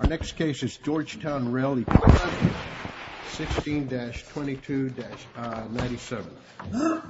Our next case is Georgetown Rail Equipment, 16-22-97. The case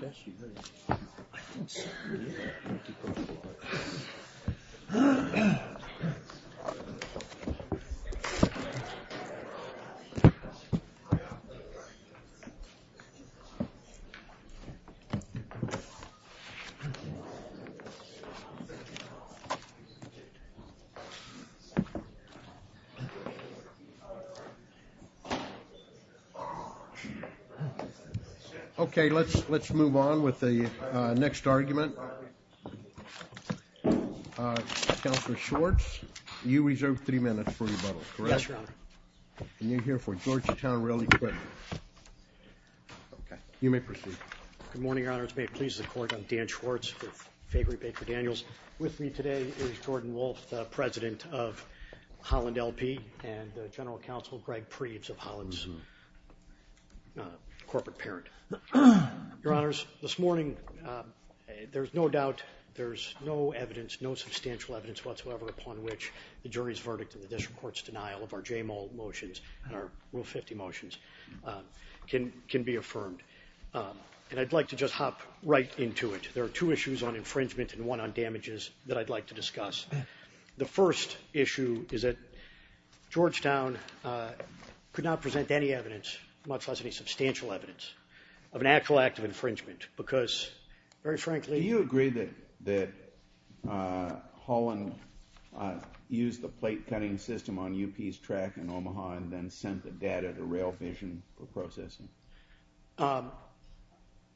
is Georgetown Rail Equipment v. Holland L.P. Okay, let's move on with the next argument. Counselor Schwartz, you reserve three minutes for rebuttal, correct? Yes, Your Honor. And you're here for Georgetown Rail Equipment. Okay, you may proceed. Good morning, Your Honors. May it please the Court, I'm Dan Schwartz with Favery Baker Daniels. With me today is Jordan Wolf, President of Holland L.P. and General Counsel Greg Preeves of Holland's corporate parent. Your Honors, this morning, there's no doubt, there's no evidence, no substantial evidence whatsoever upon which the jury's verdict in the district court's denial of our J-Mole motions and our Rule 50 motions can be affirmed. And I'd like to just hop right into it. There are two issues on infringement and one on damages that I'd like to discuss. The first issue is that Georgetown could not present any evidence, much less any substantial evidence, of an actual act of infringement because, very frankly- Do you agree that Holland used the plate-cutting system on U.P.'s track in Omaha and then sent the data to Rail Vision for processing?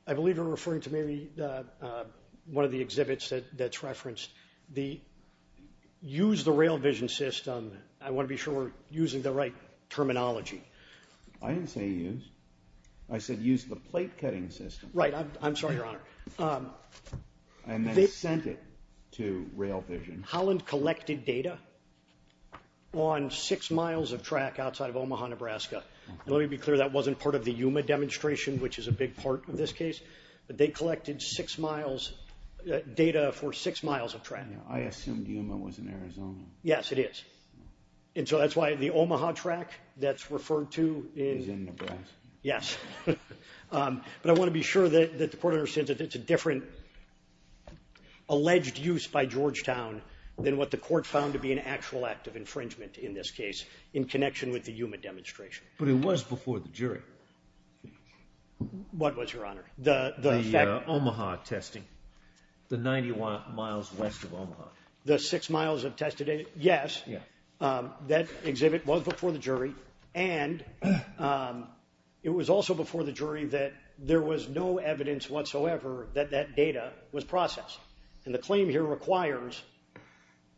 I believe you're referring to maybe one of the exhibits that's referenced. The use the Rail Vision system, I want to be sure we're using the right terminology. I didn't say use. I said use the plate-cutting system. Right. I'm sorry, Your Honor. And then sent it to Rail Vision. Holland collected data on six miles of track outside of Omaha, Nebraska. Let me be clear, that wasn't part of the Yuma demonstration, which is a big part of this case. They collected six miles, data for six miles of track. I assumed Yuma was in Arizona. Yes, it is. And so that's why the Omaha track that's referred to is- Is in Nebraska. Yes. But I want to be sure that the court understands that it's a different alleged use by Georgetown than what the court found to be an actual act of infringement in this case in connection with the Yuma demonstration. But it was before the jury. What was, Your Honor? The Omaha testing, the 91 miles west of Omaha. The six miles of test data? Yes. That exhibit was before the jury. And it was also before the jury that there was no evidence whatsoever that that data was processed. And the claim here requires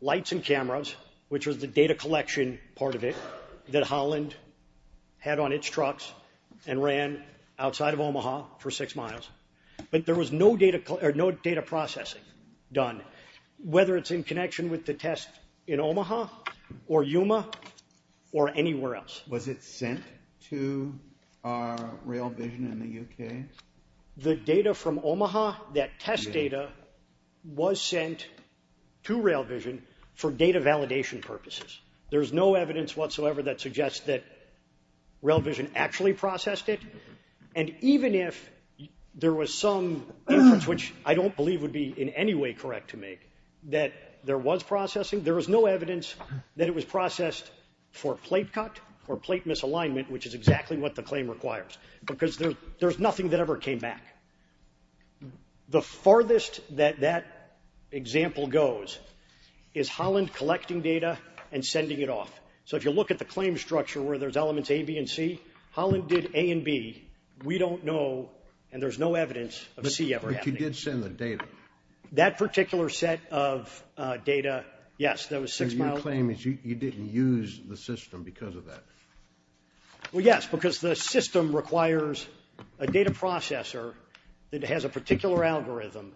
lights and cameras, which was the data collection part of it, that Holland had on its trucks and ran outside of Omaha for six miles. But there was no data processing done. Whether it's in connection with the test in Omaha or Yuma or anywhere else. Was it sent to Rail Vision in the U.K.? The data from Omaha, that test data, was sent to Rail Vision for data validation purposes. There's no evidence whatsoever that suggests that Rail Vision actually processed it. And even if there was some inference, which I don't believe would be in any way correct to make, that there was processing, there was no evidence that it was processed for plate cut or plate misalignment, which is exactly what the claim requires, because there's nothing that ever came back. The farthest that that example goes is Holland collecting data and sending it off. So if you look at the claim structure where there's elements A, B, and C, Holland did A and B. We don't know, and there's no evidence of a C ever happening. But you did send the data. That particular set of data, yes, that was six miles. So your claim is you didn't use the system because of that. Well, yes, because the system requires a data processor that has a particular algorithm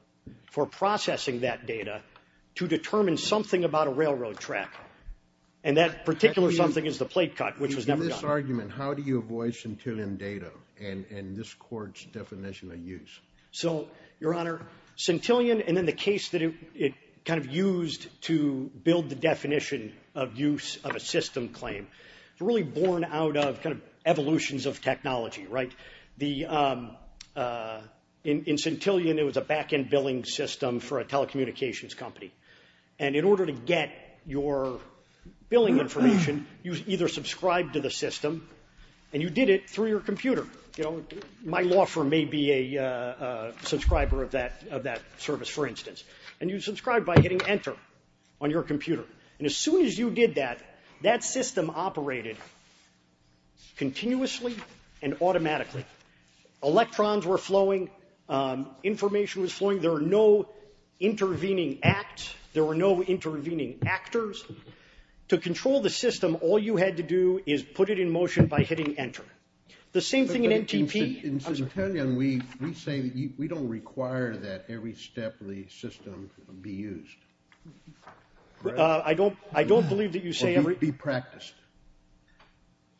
for processing that data to determine something about a railroad track. And that particular something is the plate cut, which was never done. In this argument, how do you avoid centillion data and this court's definition of use? So, Your Honor, centillion and then the case that it kind of used to build the definition of use of a system claim, it's really born out of kind of evolutions of technology, right? In centillion, it was a back-end billing system for a telecommunications company. And in order to get your billing information, you either subscribed to the system, and you did it through your computer. You know, my law firm may be a subscriber of that service, for instance. And you subscribe by hitting enter on your computer. And as soon as you did that, that system operated continuously and automatically. Electrons were flowing. Information was flowing. There were no intervening acts. There were no intervening actors. To control the system, all you had to do is put it in motion by hitting enter. The same thing in NTP. In centillion, we say that we don't require that every step of the system be used. I don't believe that you say every step. Or be practiced.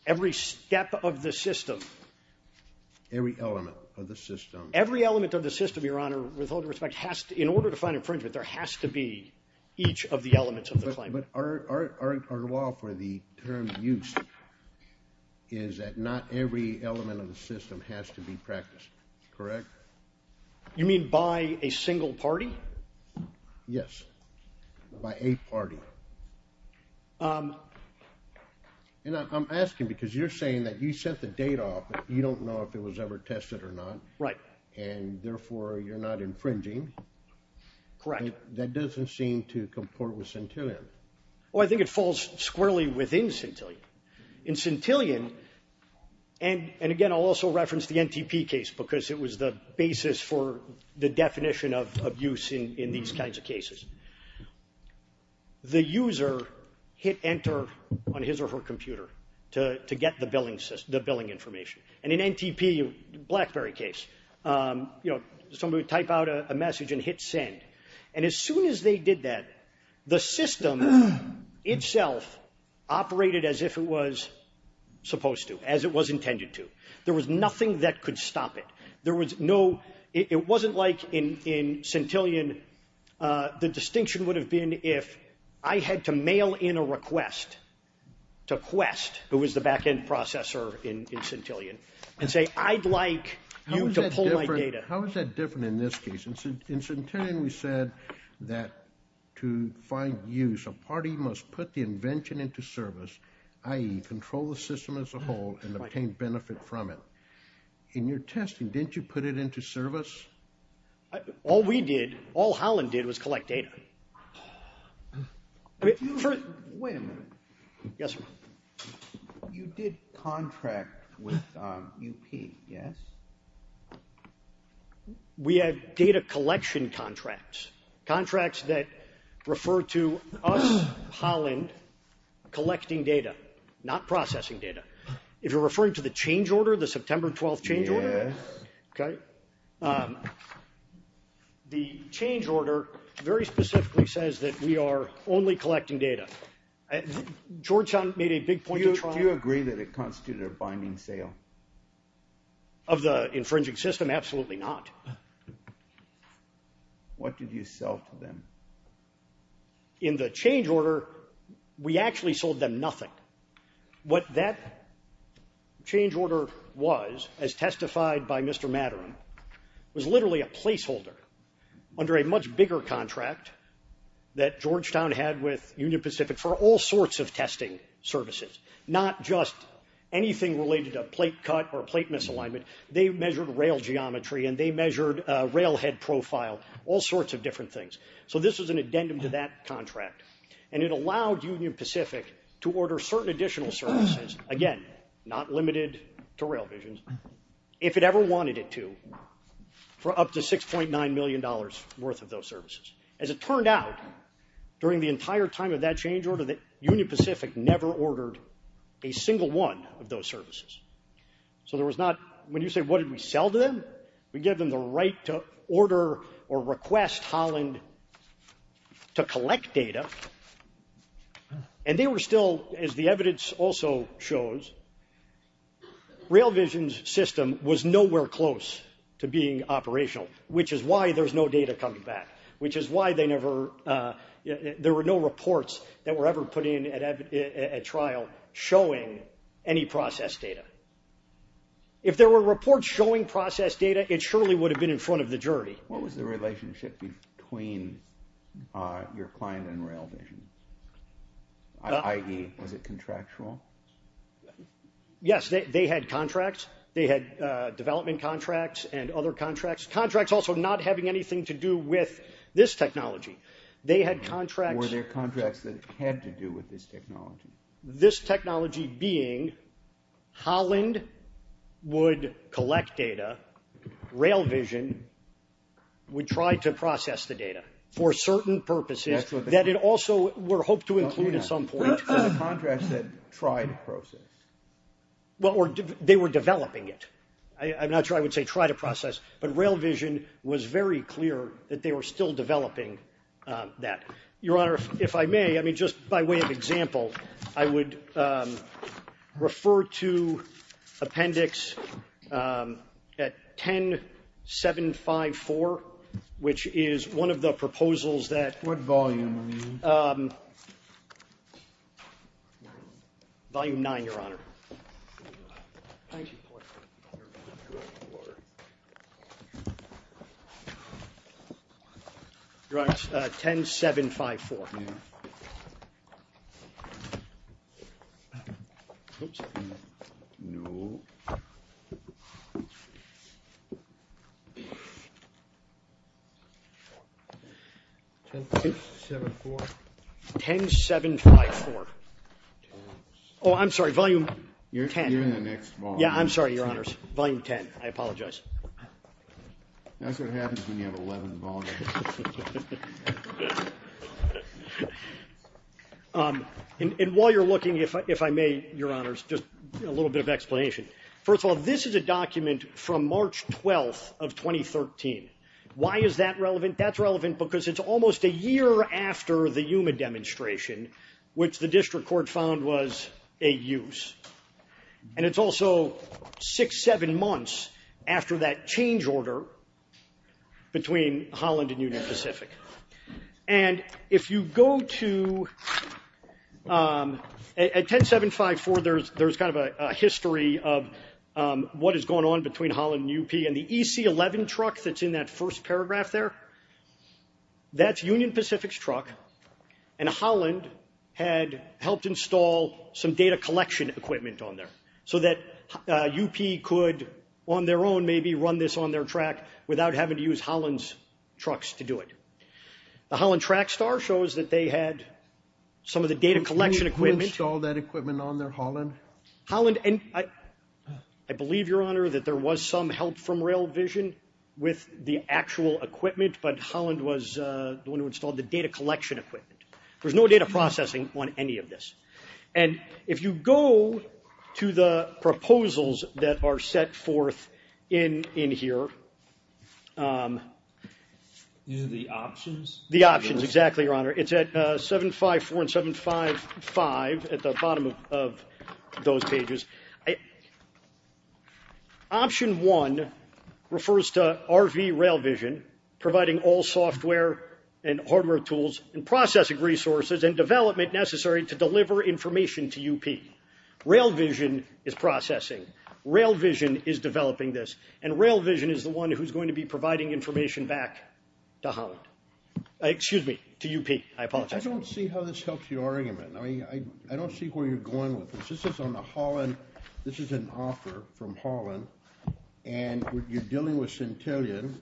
Every step of the system. Every element of the system. Every element of the system, Your Honor, with all due respect, in order to find infringement, there has to be each of the elements of the claim. But our law for the term used is that not every element of the system has to be practiced. Correct? You mean by a single party? Yes. By a party. And I'm asking because you're saying that you sent the data off, but you don't know if it was ever tested or not. Right. And therefore, you're not infringing. Correct. That doesn't seem to comport with centillion. Well, I think it falls squarely within centillion. In centillion, and again, I'll also reference the NTP case because it was the basis for the definition of use in these kinds of cases. The user hit enter on his or her computer to get the billing information. And in NTP, Blackberry case, somebody would type out a message and hit send. And as soon as they did that, the system itself operated as if it was supposed to, as it was intended to. There was nothing that could stop it. It wasn't like in centillion. The distinction would have been if I had to mail in a request to Quest, who was the back-end processor in centillion, and say, I'd like you to pull my data. How is that different in this case? In centillion, we said that to find use, a party must put the invention into service, i.e., control the system as a whole and obtain benefit from it. In your testing, didn't you put it into service? All we did, all Holland did was collect data. Wait a minute. Yes, sir. You did contract with UP, yes? We had data collection contracts, contracts that referred to us, Holland, collecting data, not processing data. If you're referring to the change order, the September 12th change order, Okay. The change order very specifically says that we are only collecting data. Georgetown made a big point. Do you agree that it constituted a binding sale? Of the infringing system, absolutely not. What did you sell to them? In the change order, we actually sold them nothing. What that change order was, as testified by Mr. Matterman, was literally a placeholder under a much bigger contract that Georgetown had with Union Pacific for all sorts of testing services, not just anything related to plate cut or plate misalignment. They measured rail geometry, and they measured rail head profile, all sorts of different things. So this was an addendum to that contract. And it allowed Union Pacific to order certain additional services, again, not limited to rail visions, if it ever wanted it to, for up to $6.9 million worth of those services. As it turned out, during the entire time of that change order, Union Pacific never ordered a single one of those services. So there was not, when you say what did we sell to them, we gave them the right to order or request Holland to collect data. And they were still, as the evidence also shows, rail visions system was nowhere close to being operational, which is why there's no data coming back, which is why there were no reports that were ever put in at trial showing any process data. If there were reports showing process data, it surely would have been in front of the jury. What was the relationship between your client and Rail Vision? I.e., was it contractual? Yes, they had contracts. They had development contracts and other contracts. Contracts also not having anything to do with this technology. They had contracts. Were there contracts that had to do with this technology? This technology being Holland would collect data. Rail Vision would try to process the data for certain purposes that it also were hoped to include at some point. Contracts that tried to process. They were developing it. I'm not sure I would say try to process, but Rail Vision was very clear that they were still developing that. Your Honor, if I may, I mean, just by way of example, I would refer to Appendix 10754, which is one of the proposals that. What volume are you in? Volume 9, Your Honor. Thank you. Your Honor, 10754. 10754. 10754. Oh, I'm sorry, volume 10. You're in the next volume. Yeah, I'm sorry, Your Honors. Volume 10. I apologize. That's what happens when you have 11 volumes. And while you're looking, if I may, Your Honors, just a little bit of explanation. First of all, this is a document from March 12th of 2013. Why is that relevant? That's relevant because it's almost a year after the Yuma demonstration, which the district court found was a use. And it's also six, seven months after that change order between Holland and Union Pacific. And if you go to, at 10754, there's kind of a history of what is going on between Holland and UP, and the EC11 truck that's in that first paragraph there, that's Union Pacific's truck, and Holland had helped install some data collection equipment on there, so that UP could, on their own, maybe run this on their track without having to use Holland's trucks to do it. The Holland track star shows that they had some of the data collection equipment. Holland, and I believe, Your Honor, that there was some help from Rail Vision with the actual equipment, but Holland was the one who installed the data collection equipment. There's no data processing on any of this. And if you go to the proposals that are set forth in here, These are the options? The options, exactly, Your Honor. It's at 754 and 755 at the bottom of those pages. Option one refers to RV Rail Vision, providing all software and hardware tools and processing resources and development necessary to deliver information to UP. Rail Vision is processing. Rail Vision is developing this. And Rail Vision is the one who's going to be providing information back to Holland. Excuse me, to UP, I apologize. I don't see how this helps your argument. I don't see where you're going with this. This is on the Holland, this is an offer from Holland. And you're dealing with Centillion.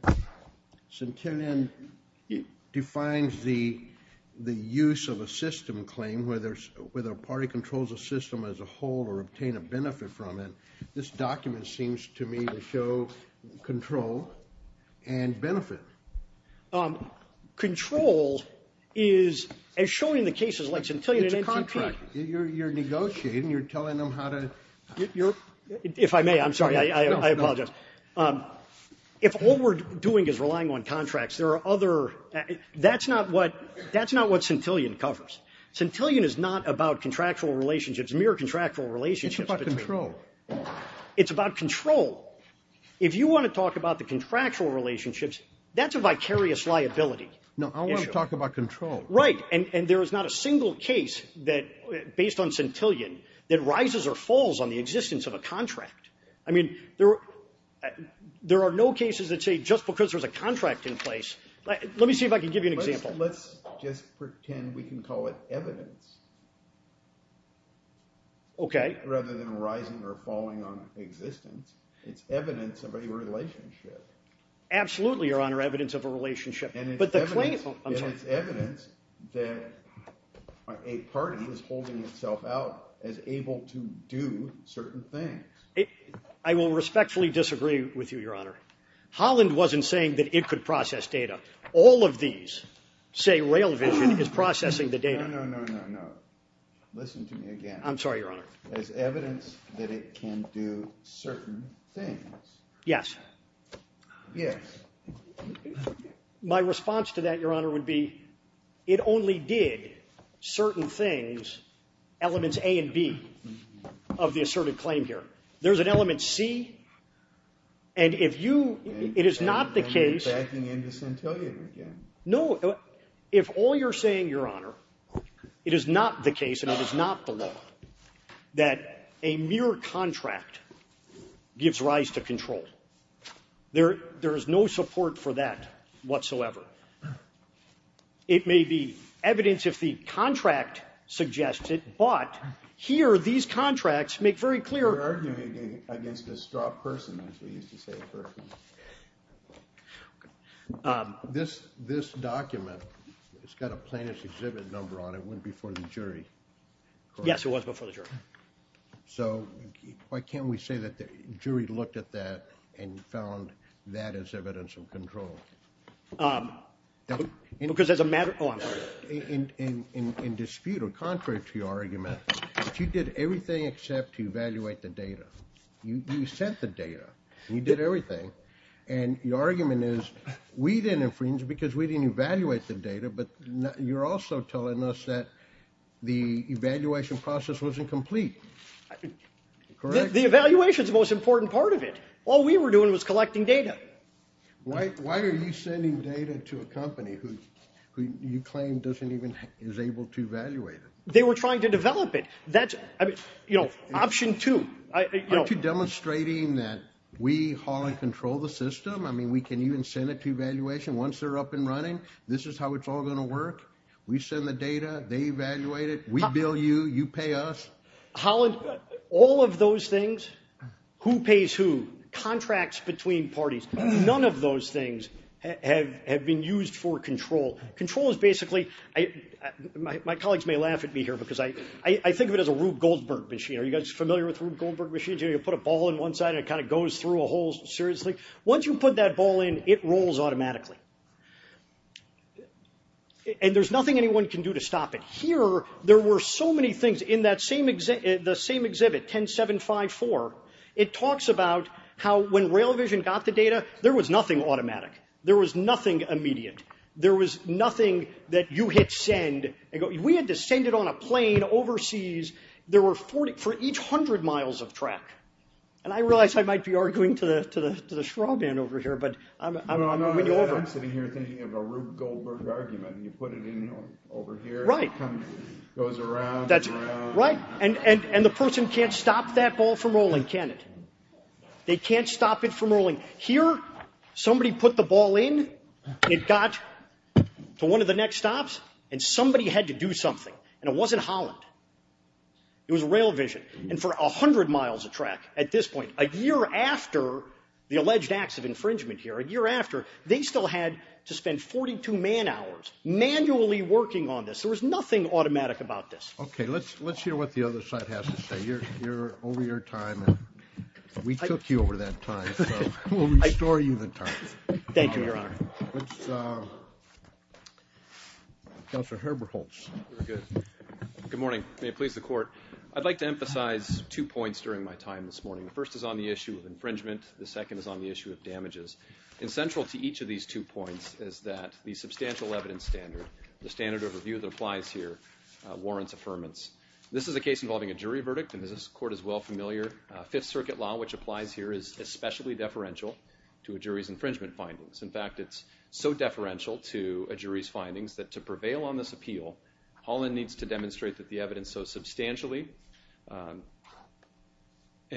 Centillion defines the use of a system claim, whether a party controls a system as a whole or obtain a benefit from it. This document seems to me to show control and benefit. Control is, as shown in the cases like Centillion and NCP. It's a contract. You're negotiating, you're telling them how to. If I may, I'm sorry, I apologize. If all we're doing is relying on contracts, there are other, that's not what Centillion covers. Centillion is not about contractual relationships, mere contractual relationships. It's about control. It's about control. If you want to talk about the contractual relationships, that's a vicarious liability. No, I want to talk about control. Right, and there is not a single case based on Centillion that rises or falls on the existence of a contract. I mean, there are no cases that say just because there's a contract in place. Let me see if I can give you an example. Let's just pretend we can call it evidence. Okay. Rather than rising or falling on existence, it's evidence of a relationship. Absolutely, Your Honor, evidence of a relationship. And it's evidence that a party is holding itself out as able to do certain things. I will respectfully disagree with you, Your Honor. Holland wasn't saying that it could process data. All of these say Rail Vision is processing the data. No, no, no, no, no. Listen to me again. I'm sorry, Your Honor. There's evidence that it can do certain things. Yes. Yes. My response to that, Your Honor, would be it only did certain things, elements A and B, of the asserted claim here. There's an element C, and if you – it is not the case. You're backing into Centillion again. No. If all you're saying, Your Honor, it is not the case and it is not the law that a mere contract gives rise to control. There is no support for that whatsoever. It may be evidence if the contract suggests it, but here these contracts make very clear You're arguing against a straw person, as we used to say at first. This document, it's got a plaintiff's exhibit number on it. It went before the jury. Yes, it was before the jury. So why can't we say that the jury looked at that and found that as evidence of control? Because as a matter of – oh, I'm sorry. In dispute or contrary to your argument, you did everything except to evaluate the data. You sent the data and you did everything, and your argument is we didn't infringe because we didn't evaluate the data, but you're also telling us that the evaluation process wasn't complete, correct? The evaluation is the most important part of it. All we were doing was collecting data. Why are you sending data to a company who you claim doesn't even – is able to evaluate it? They were trying to develop it. That's – I mean, you know, option two. Aren't you demonstrating that we haul and control the system? I mean, we can even send it to evaluation. Once they're up and running, this is how it's all going to work. We send the data. They evaluate it. We bill you. You pay us. Holland, all of those things, who pays who, contracts between parties, none of those things have been used for control. Control is basically – my colleagues may laugh at me here because I think of it as a Rube Goldberg machine. Are you guys familiar with the Rube Goldberg machine? You put a ball in one side and it kind of goes through a hole seriously. Once you put that ball in, it rolls automatically. And there's nothing anyone can do to stop it. Here, there were so many things. In that same – the same exhibit, 10.754, it talks about how when Rail Vision got the data, there was nothing automatic. There was nothing immediate. There was nothing that you hit send. We had to send it on a plane overseas. There were 40 – for each 100 miles of track. And I realize I might be arguing to the straw man over here, but I'm going to win you over. I'm sitting here thinking of a Rube Goldberg argument. You put it in over here. Right. It goes around, goes around. Right. And the person can't stop that ball from rolling, can it? They can't stop it from rolling. Here, somebody put the ball in, it got to one of the next stops, and somebody had to do something. And it wasn't Holland. It was Rail Vision. And for 100 miles of track at this point, a year after the alleged acts of infringement here, a year after, they still had to spend 42 man hours manually working on this. There was nothing automatic about this. Okay. Let's hear what the other side has to say. You're over your time. We took you over that time. We'll restore you the time. Thank you, Your Honor. Counselor Herbertholtz. Good morning. May it please the Court. I'd like to emphasize two points during my time this morning. The first is on the issue of infringement. The second is on the issue of damages. And central to each of these two points is that the substantial evidence standard, the standard of review that applies here, warrants affirmance. This is a case involving a jury verdict, and this Court is well familiar. Fifth Circuit law, which applies here, is especially deferential to a jury's infringement findings. In fact, it's so deferential to a jury's findings that to prevail on this appeal, Holland needs to demonstrate that the evidence so substantially and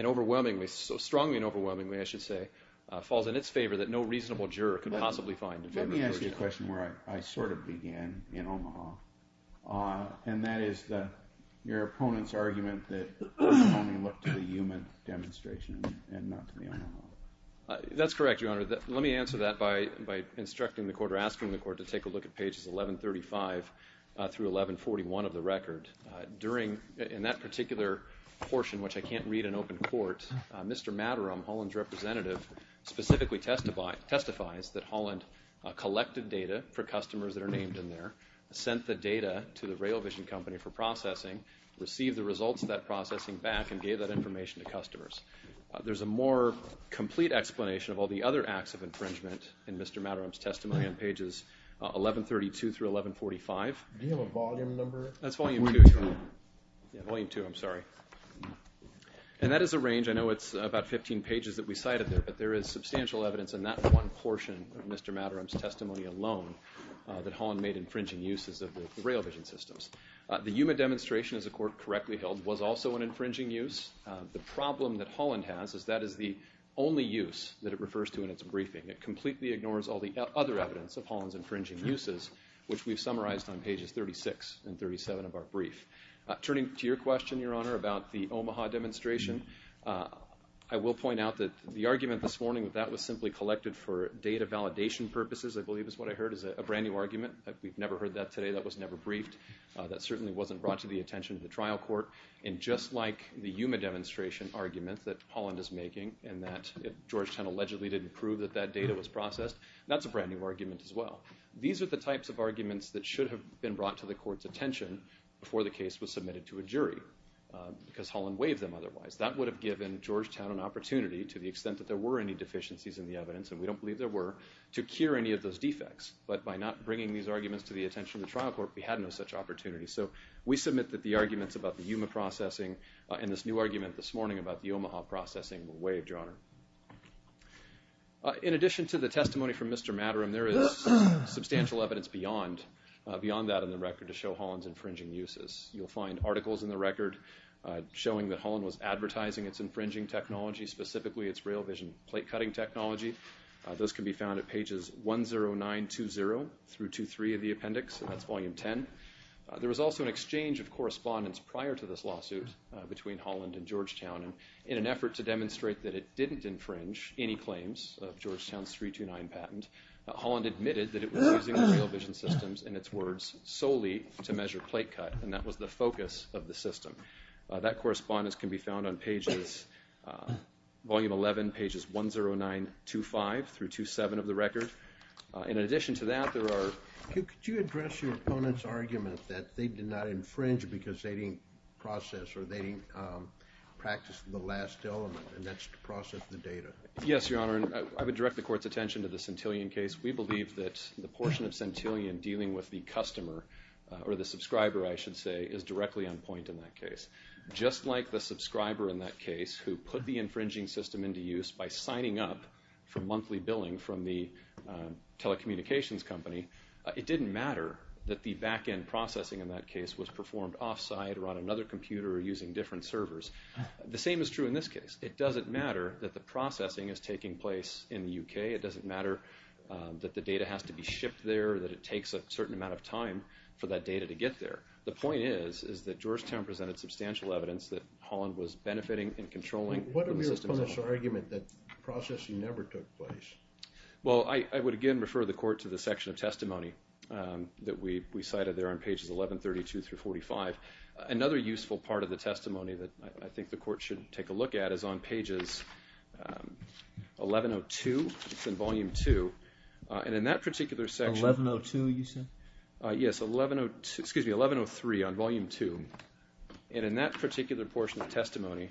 overwhelmingly, so strongly and overwhelmingly, I should say, falls in its favor that no reasonable juror could possibly find to demonstrate it. Let me ask you a question where I sort of began in Omaha, and that is your opponent's argument that one can only look to the human demonstration and not to the Omaha. That's correct, Your Honor. Let me answer that by instructing the Court or asking the Court to take a look at pages 1135 through 1141 of the record. During that particular portion, which I can't read in open court, Mr. Matterham, Holland's representative, specifically testifies that Holland collected data for customers that are named in there, sent the data to the Rail Vision Company for processing, received the results of that processing back, and gave that information to customers. There's a more complete explanation of all the other acts of infringement in Mr. Matterham's testimony on pages 1132 through 1145. Do you have a volume number? That's volume two, Your Honor. Volume two, I'm sorry. And that is a range. I know it's about 15 pages that we cited there, but there is substantial evidence in that one portion of Mr. Matterham's testimony alone that Holland made infringing uses of the rail vision systems. The human demonstration, as the Court correctly held, was also an infringing use. The problem that Holland has is that is the only use that it refers to in its briefing. It completely ignores all the other evidence of Holland's infringing uses, which we've summarized on pages 36 and 37 of our brief. Turning to your question, Your Honor, about the Omaha demonstration, I will point out that the argument this morning that that was simply collected for data validation purposes, I believe is what I heard, is a brand-new argument. We've never heard that today. That was never briefed. That certainly wasn't brought to the attention of the trial court. And just like the Yuma demonstration argument that Holland is making and that Georgetown allegedly didn't prove that that data was processed, that's a brand-new argument as well. These are the types of arguments that should have been brought to the Court's attention before the case was submitted to a jury, because Holland waived them otherwise. That would have given Georgetown an opportunity, to the extent that there were any deficiencies in the evidence, and we don't believe there were, to cure any of those defects. But by not bringing these arguments to the attention of the trial court, we had no such opportunity. So we submit that the arguments about the Yuma processing In addition to the testimony from Mr. Matterham, there is substantial evidence beyond that in the record to show Holland's infringing uses. You'll find articles in the record showing that Holland was advertising its infringing technology, specifically its rail-vision plate-cutting technology. Those can be found at pages 10920-23 of the appendix, and that's volume 10. There was also an exchange of correspondence prior to this lawsuit between Holland and Georgetown in an effort to demonstrate that it didn't infringe any claims of Georgetown's 329 patent. Holland admitted that it was using the rail-vision systems, in its words, solely to measure plate-cut, and that was the focus of the system. That correspondence can be found on pages, volume 11, pages 10925-27 of the record. In addition to that, there are... Could you address your opponent's argument that they did not infringe because they didn't process or they didn't practice the last element, and that's to process the data? Yes, Your Honor, and I would direct the Court's attention to the Centillion case. We believe that the portion of Centillion dealing with the customer, or the subscriber, I should say, is directly on point in that case. Just like the subscriber in that case who put the infringing system into use by signing up for monthly billing from the telecommunications company, it didn't matter that the back-end processing in that case was performed off-site or on another computer or using different servers. The same is true in this case. It doesn't matter that the processing is taking place in the U.K. It doesn't matter that the data has to be shipped there, that it takes a certain amount of time for that data to get there. The point is, is that Georgetown presented substantial evidence that Holland was benefiting and controlling... What is your opponent's argument that processing never took place? Well, I would again refer the Court to the section of testimony that we cited there on pages 1132 through 45. Another useful part of the testimony that I think the Court should take a look at is on pages 1102. It's in Volume 2, and in that particular section... 1102, you said? Yes, 1103 on Volume 2, and in that particular portion of testimony,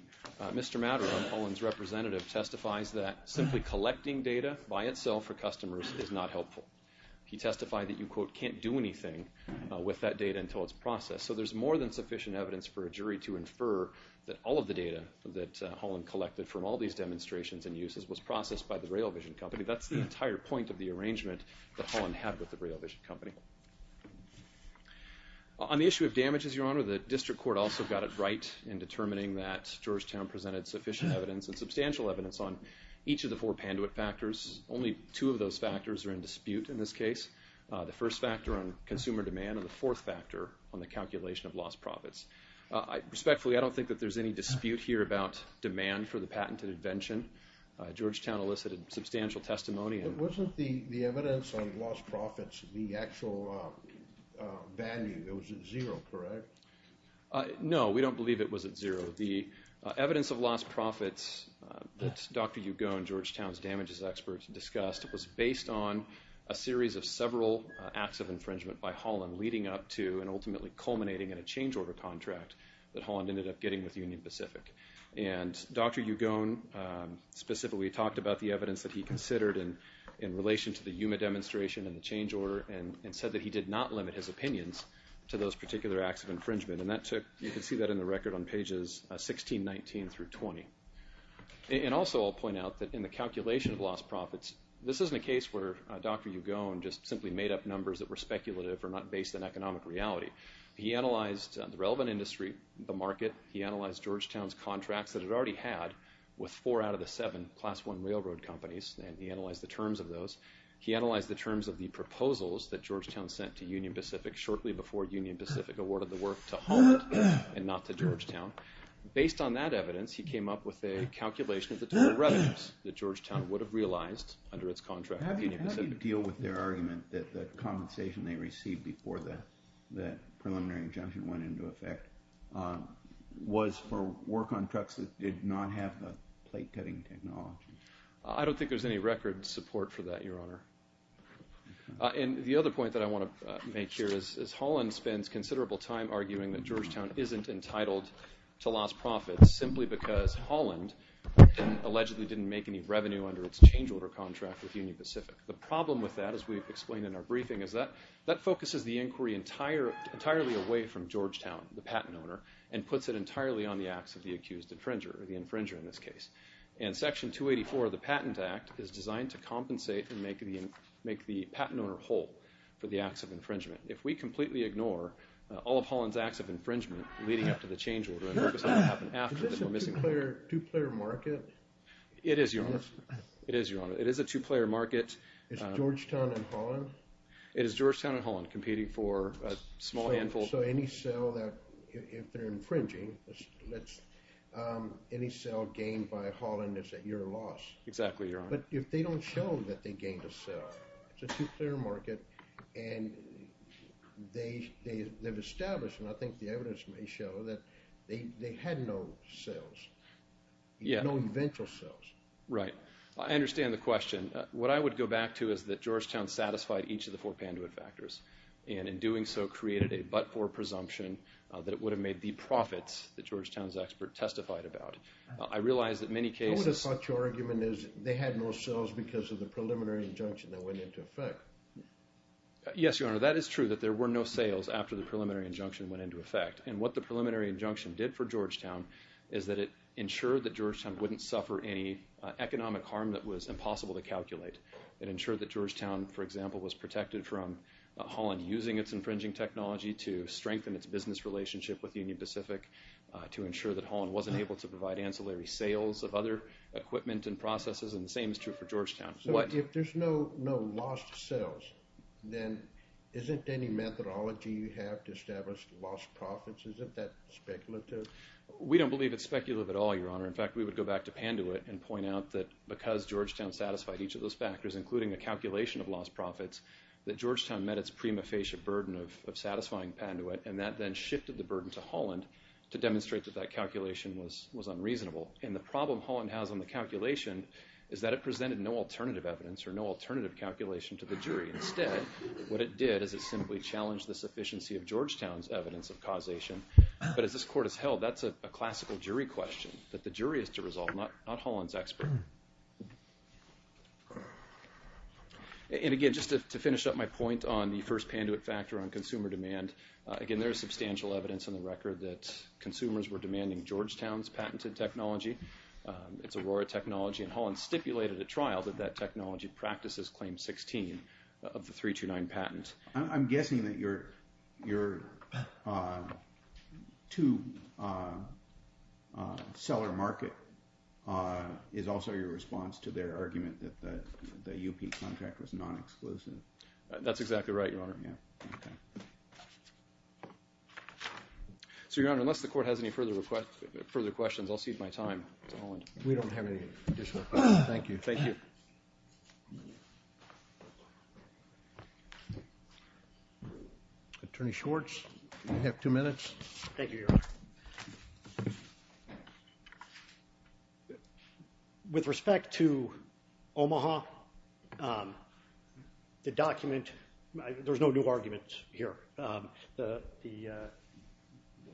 Mr. Matterhorn, Holland's representative, testifies that simply collecting data by itself for customers is not helpful. He testified that you, quote, can't do anything with that data until it's processed. So there's more than sufficient evidence for a jury to infer that all of the data that Holland collected from all these demonstrations and uses was processed by the Rail Vision Company. That's the entire point of the arrangement that Holland had with the Rail Vision Company. On the issue of damages, Your Honor, the District Court also got it right in determining that Georgetown presented sufficient evidence and substantial evidence on each of the four Panduit factors. Only two of those factors are in dispute in this case, the first factor on consumer demand and the fourth factor on the calculation of lost profits. Respectfully, I don't think that there's any dispute here about demand for the patented invention. Georgetown elicited substantial testimony... But wasn't the evidence on lost profits the actual value that was at zero, correct? No, we don't believe it was at zero. The evidence of lost profits that Dr. Ugone, Georgetown's damages expert, discussed was based on a series of several acts of infringement by Holland leading up to and ultimately culminating in a change order contract that Holland ended up getting with Union Pacific. And Dr. Ugone specifically talked about the evidence that he considered in relation to the Yuma demonstration and the change order and said that he did not limit his opinions to those particular acts of infringement. And you can see that in the record on pages 16, 19 through 20. And also I'll point out that in the calculation of lost profits, this isn't a case where Dr. Ugone just simply made up numbers that were speculative or not based on economic reality. He analyzed the relevant industry, the market. He analyzed Georgetown's contracts that it already had with four out of the seven class one railroad companies and he analyzed the terms of those. He analyzed the terms of the proposals that Georgetown sent to Union Pacific shortly before Union Pacific awarded the work to Holland and not to Georgetown. Based on that evidence, he came up with a calculation of the total revenues that Georgetown would have realized under its contract with Union Pacific. How do you deal with their argument that the compensation they received before that preliminary injunction went into effect was for work on trucks that did not have the plate cutting technology? I don't think there's any record support for that, Your Honor. The other point that I want to make here is Holland spends considerable time arguing that Georgetown isn't entitled to lost profits simply because Holland allegedly didn't make any revenue under its change order contract with Union Pacific. The problem with that, as we've explained in our briefing, is that that focuses the inquiry entirely away from Georgetown, the patent owner, and puts it entirely on the acts of the accused infringer, or the infringer in this case. And Section 284 of the Patent Act is designed to compensate and make the patent owner whole for the acts of infringement. If we completely ignore all of Holland's acts of infringement leading up to the change order and focus on what happened after, then we're missing the point. Is this a two-player market? It is, Your Honor. It is, Your Honor. It is a two-player market. Is Georgetown and Holland? It is Georgetown and Holland competing for a small handful. So any sale that, if they're infringing, any sale gained by Holland is at your loss? Exactly, Your Honor. But if they don't show that they gained a sale, it's a two-player market, and they've established, and I think the evidence may show, that they had no sales, no eventual sales. Right. I understand the question. What I would go back to is that Georgetown satisfied each of the four Panduit factors, and in doing so created a but-for presumption that it would have made the profits that Georgetown's expert testified about. I realize that many cases— There were sales because of the preliminary injunction that went into effect. Yes, Your Honor, that is true, that there were no sales after the preliminary injunction went into effect. And what the preliminary injunction did for Georgetown is that it ensured that Georgetown wouldn't suffer any economic harm that was impossible to calculate. It ensured that Georgetown, for example, was protected from Holland using its infringing technology to strengthen its business relationship with Union Pacific, to ensure that Holland wasn't able to provide ancillary sales of other equipment and processes and the same is true for Georgetown. So if there's no lost sales, then isn't any methodology you have to establish lost profits? Isn't that speculative? We don't believe it's speculative at all, Your Honor. In fact, we would go back to Panduit and point out that because Georgetown satisfied each of those factors, including the calculation of lost profits, that Georgetown met its prima facie burden of satisfying Panduit, and that then shifted the burden to Holland to demonstrate that that calculation was unreasonable. And the problem Holland has on the calculation is that it presented no alternative evidence or no alternative calculation to the jury. Instead, what it did is it simply challenged the sufficiency of Georgetown's evidence of causation. But as this court has held, that's a classical jury question that the jury is to resolve, not Holland's expert. And again, just to finish up my point on the first Panduit factor on consumer demand, again, there is substantial evidence in the record that consumers were demanding Georgetown's patented technology, its Aurora technology, and Holland stipulated at trial that that technology practices Claim 16 of the 329 patent. I'm guessing that your two-seller market is also your response to their argument that the UP contract was non-exclusive. That's exactly right, Your Honor. So, Your Honor, unless the court has any further questions, I'll cede my time to Holland. We don't have any additional questions. Thank you. Thank you. Attorney Schwartz, you have two minutes. Thank you, Your Honor. With respect to Omaha, the document, there's no new argument here. The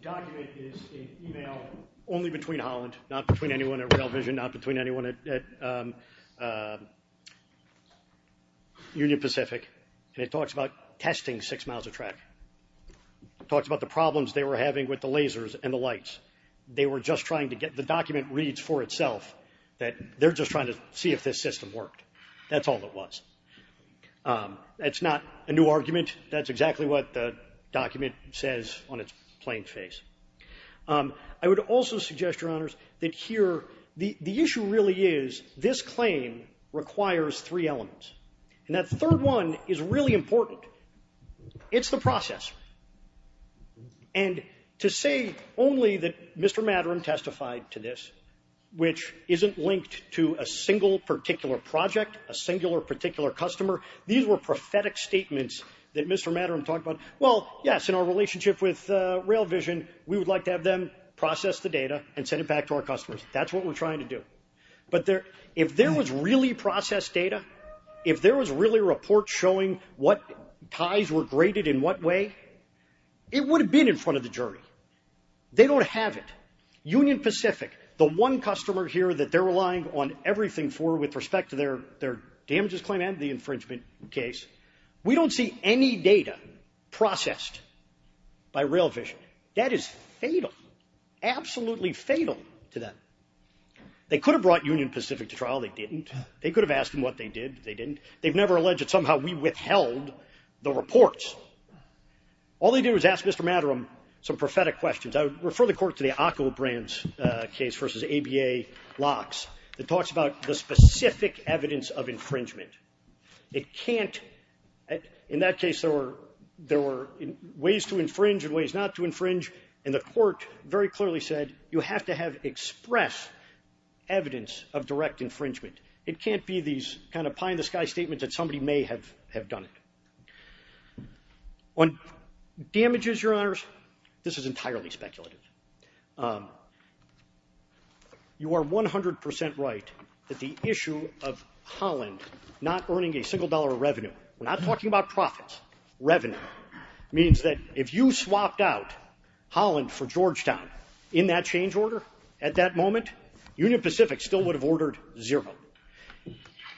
document is an email only between Holland, not between anyone at Rail Vision, not between anyone at Union Pacific, and it talks about testing six miles of track. It talks about the problems they were having with the lasers and the lights. They were just trying to get the document reads for itself that they're just trying to see if this system worked. That's all it was. That's not a new argument. That's exactly what the document says on its plain face. I would also suggest, Your Honors, that here the issue really is this claim requires three elements. And that third one is really important. It's the process. And to say only that Mr. Matterham testified to this, which isn't linked to a single particular project, a singular particular customer, these were prophetic statements that Mr. Matterham talked about. Well, yes, in our relationship with Rail Vision, we would like to have them process the data and send it back to our customers. That's what we're trying to do. But if there was really processed data, if there was really a report showing what ties were graded in what way, it would have been in front of the jury. They don't have it. Union Pacific, the one customer here that they're relying on everything for with respect to their damages claim and the infringement case, we don't see any data processed by Rail Vision. That is fatal, absolutely fatal to them. They could have brought Union Pacific to trial. They didn't. They could have asked them what they did. They didn't. They've never alleged that somehow we withheld the reports. All they did was ask Mr. Matterham some prophetic questions. I would refer the court to the Occo Brands case versus ABA locks that talks about the specific evidence of infringement. In that case, there were ways to infringe and ways not to infringe. And the court very clearly said, you have to have express evidence of direct infringement. It can't be these kind of pie-in-the-sky statements that somebody may have done it. On damages, Your Honors, this is entirely speculative. You are 100% right that the issue of Holland not earning a single dollar of revenue, we're not talking about profits, revenue, means that if you swapped out Holland for Georgetown in that change order at that moment, Union Pacific still would have ordered zero.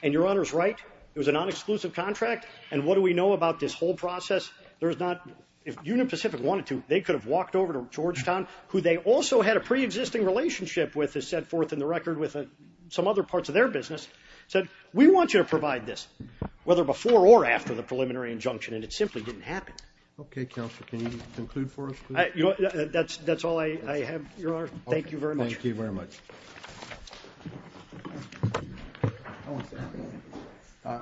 And Your Honors right, it was a non-exclusive contract. And what do we know about this whole process? If Union Pacific wanted to, they could have walked over to Georgetown, who they also had a pre-existing relationship with, as set forth in the record, with some other parts of their business, said, we want you to provide this, whether before or after the preliminary injunction. And it simply didn't happen. OK, Counselor, can you conclude for us, please? That's all I have, Your Honor. Thank you very much. Thank you very much.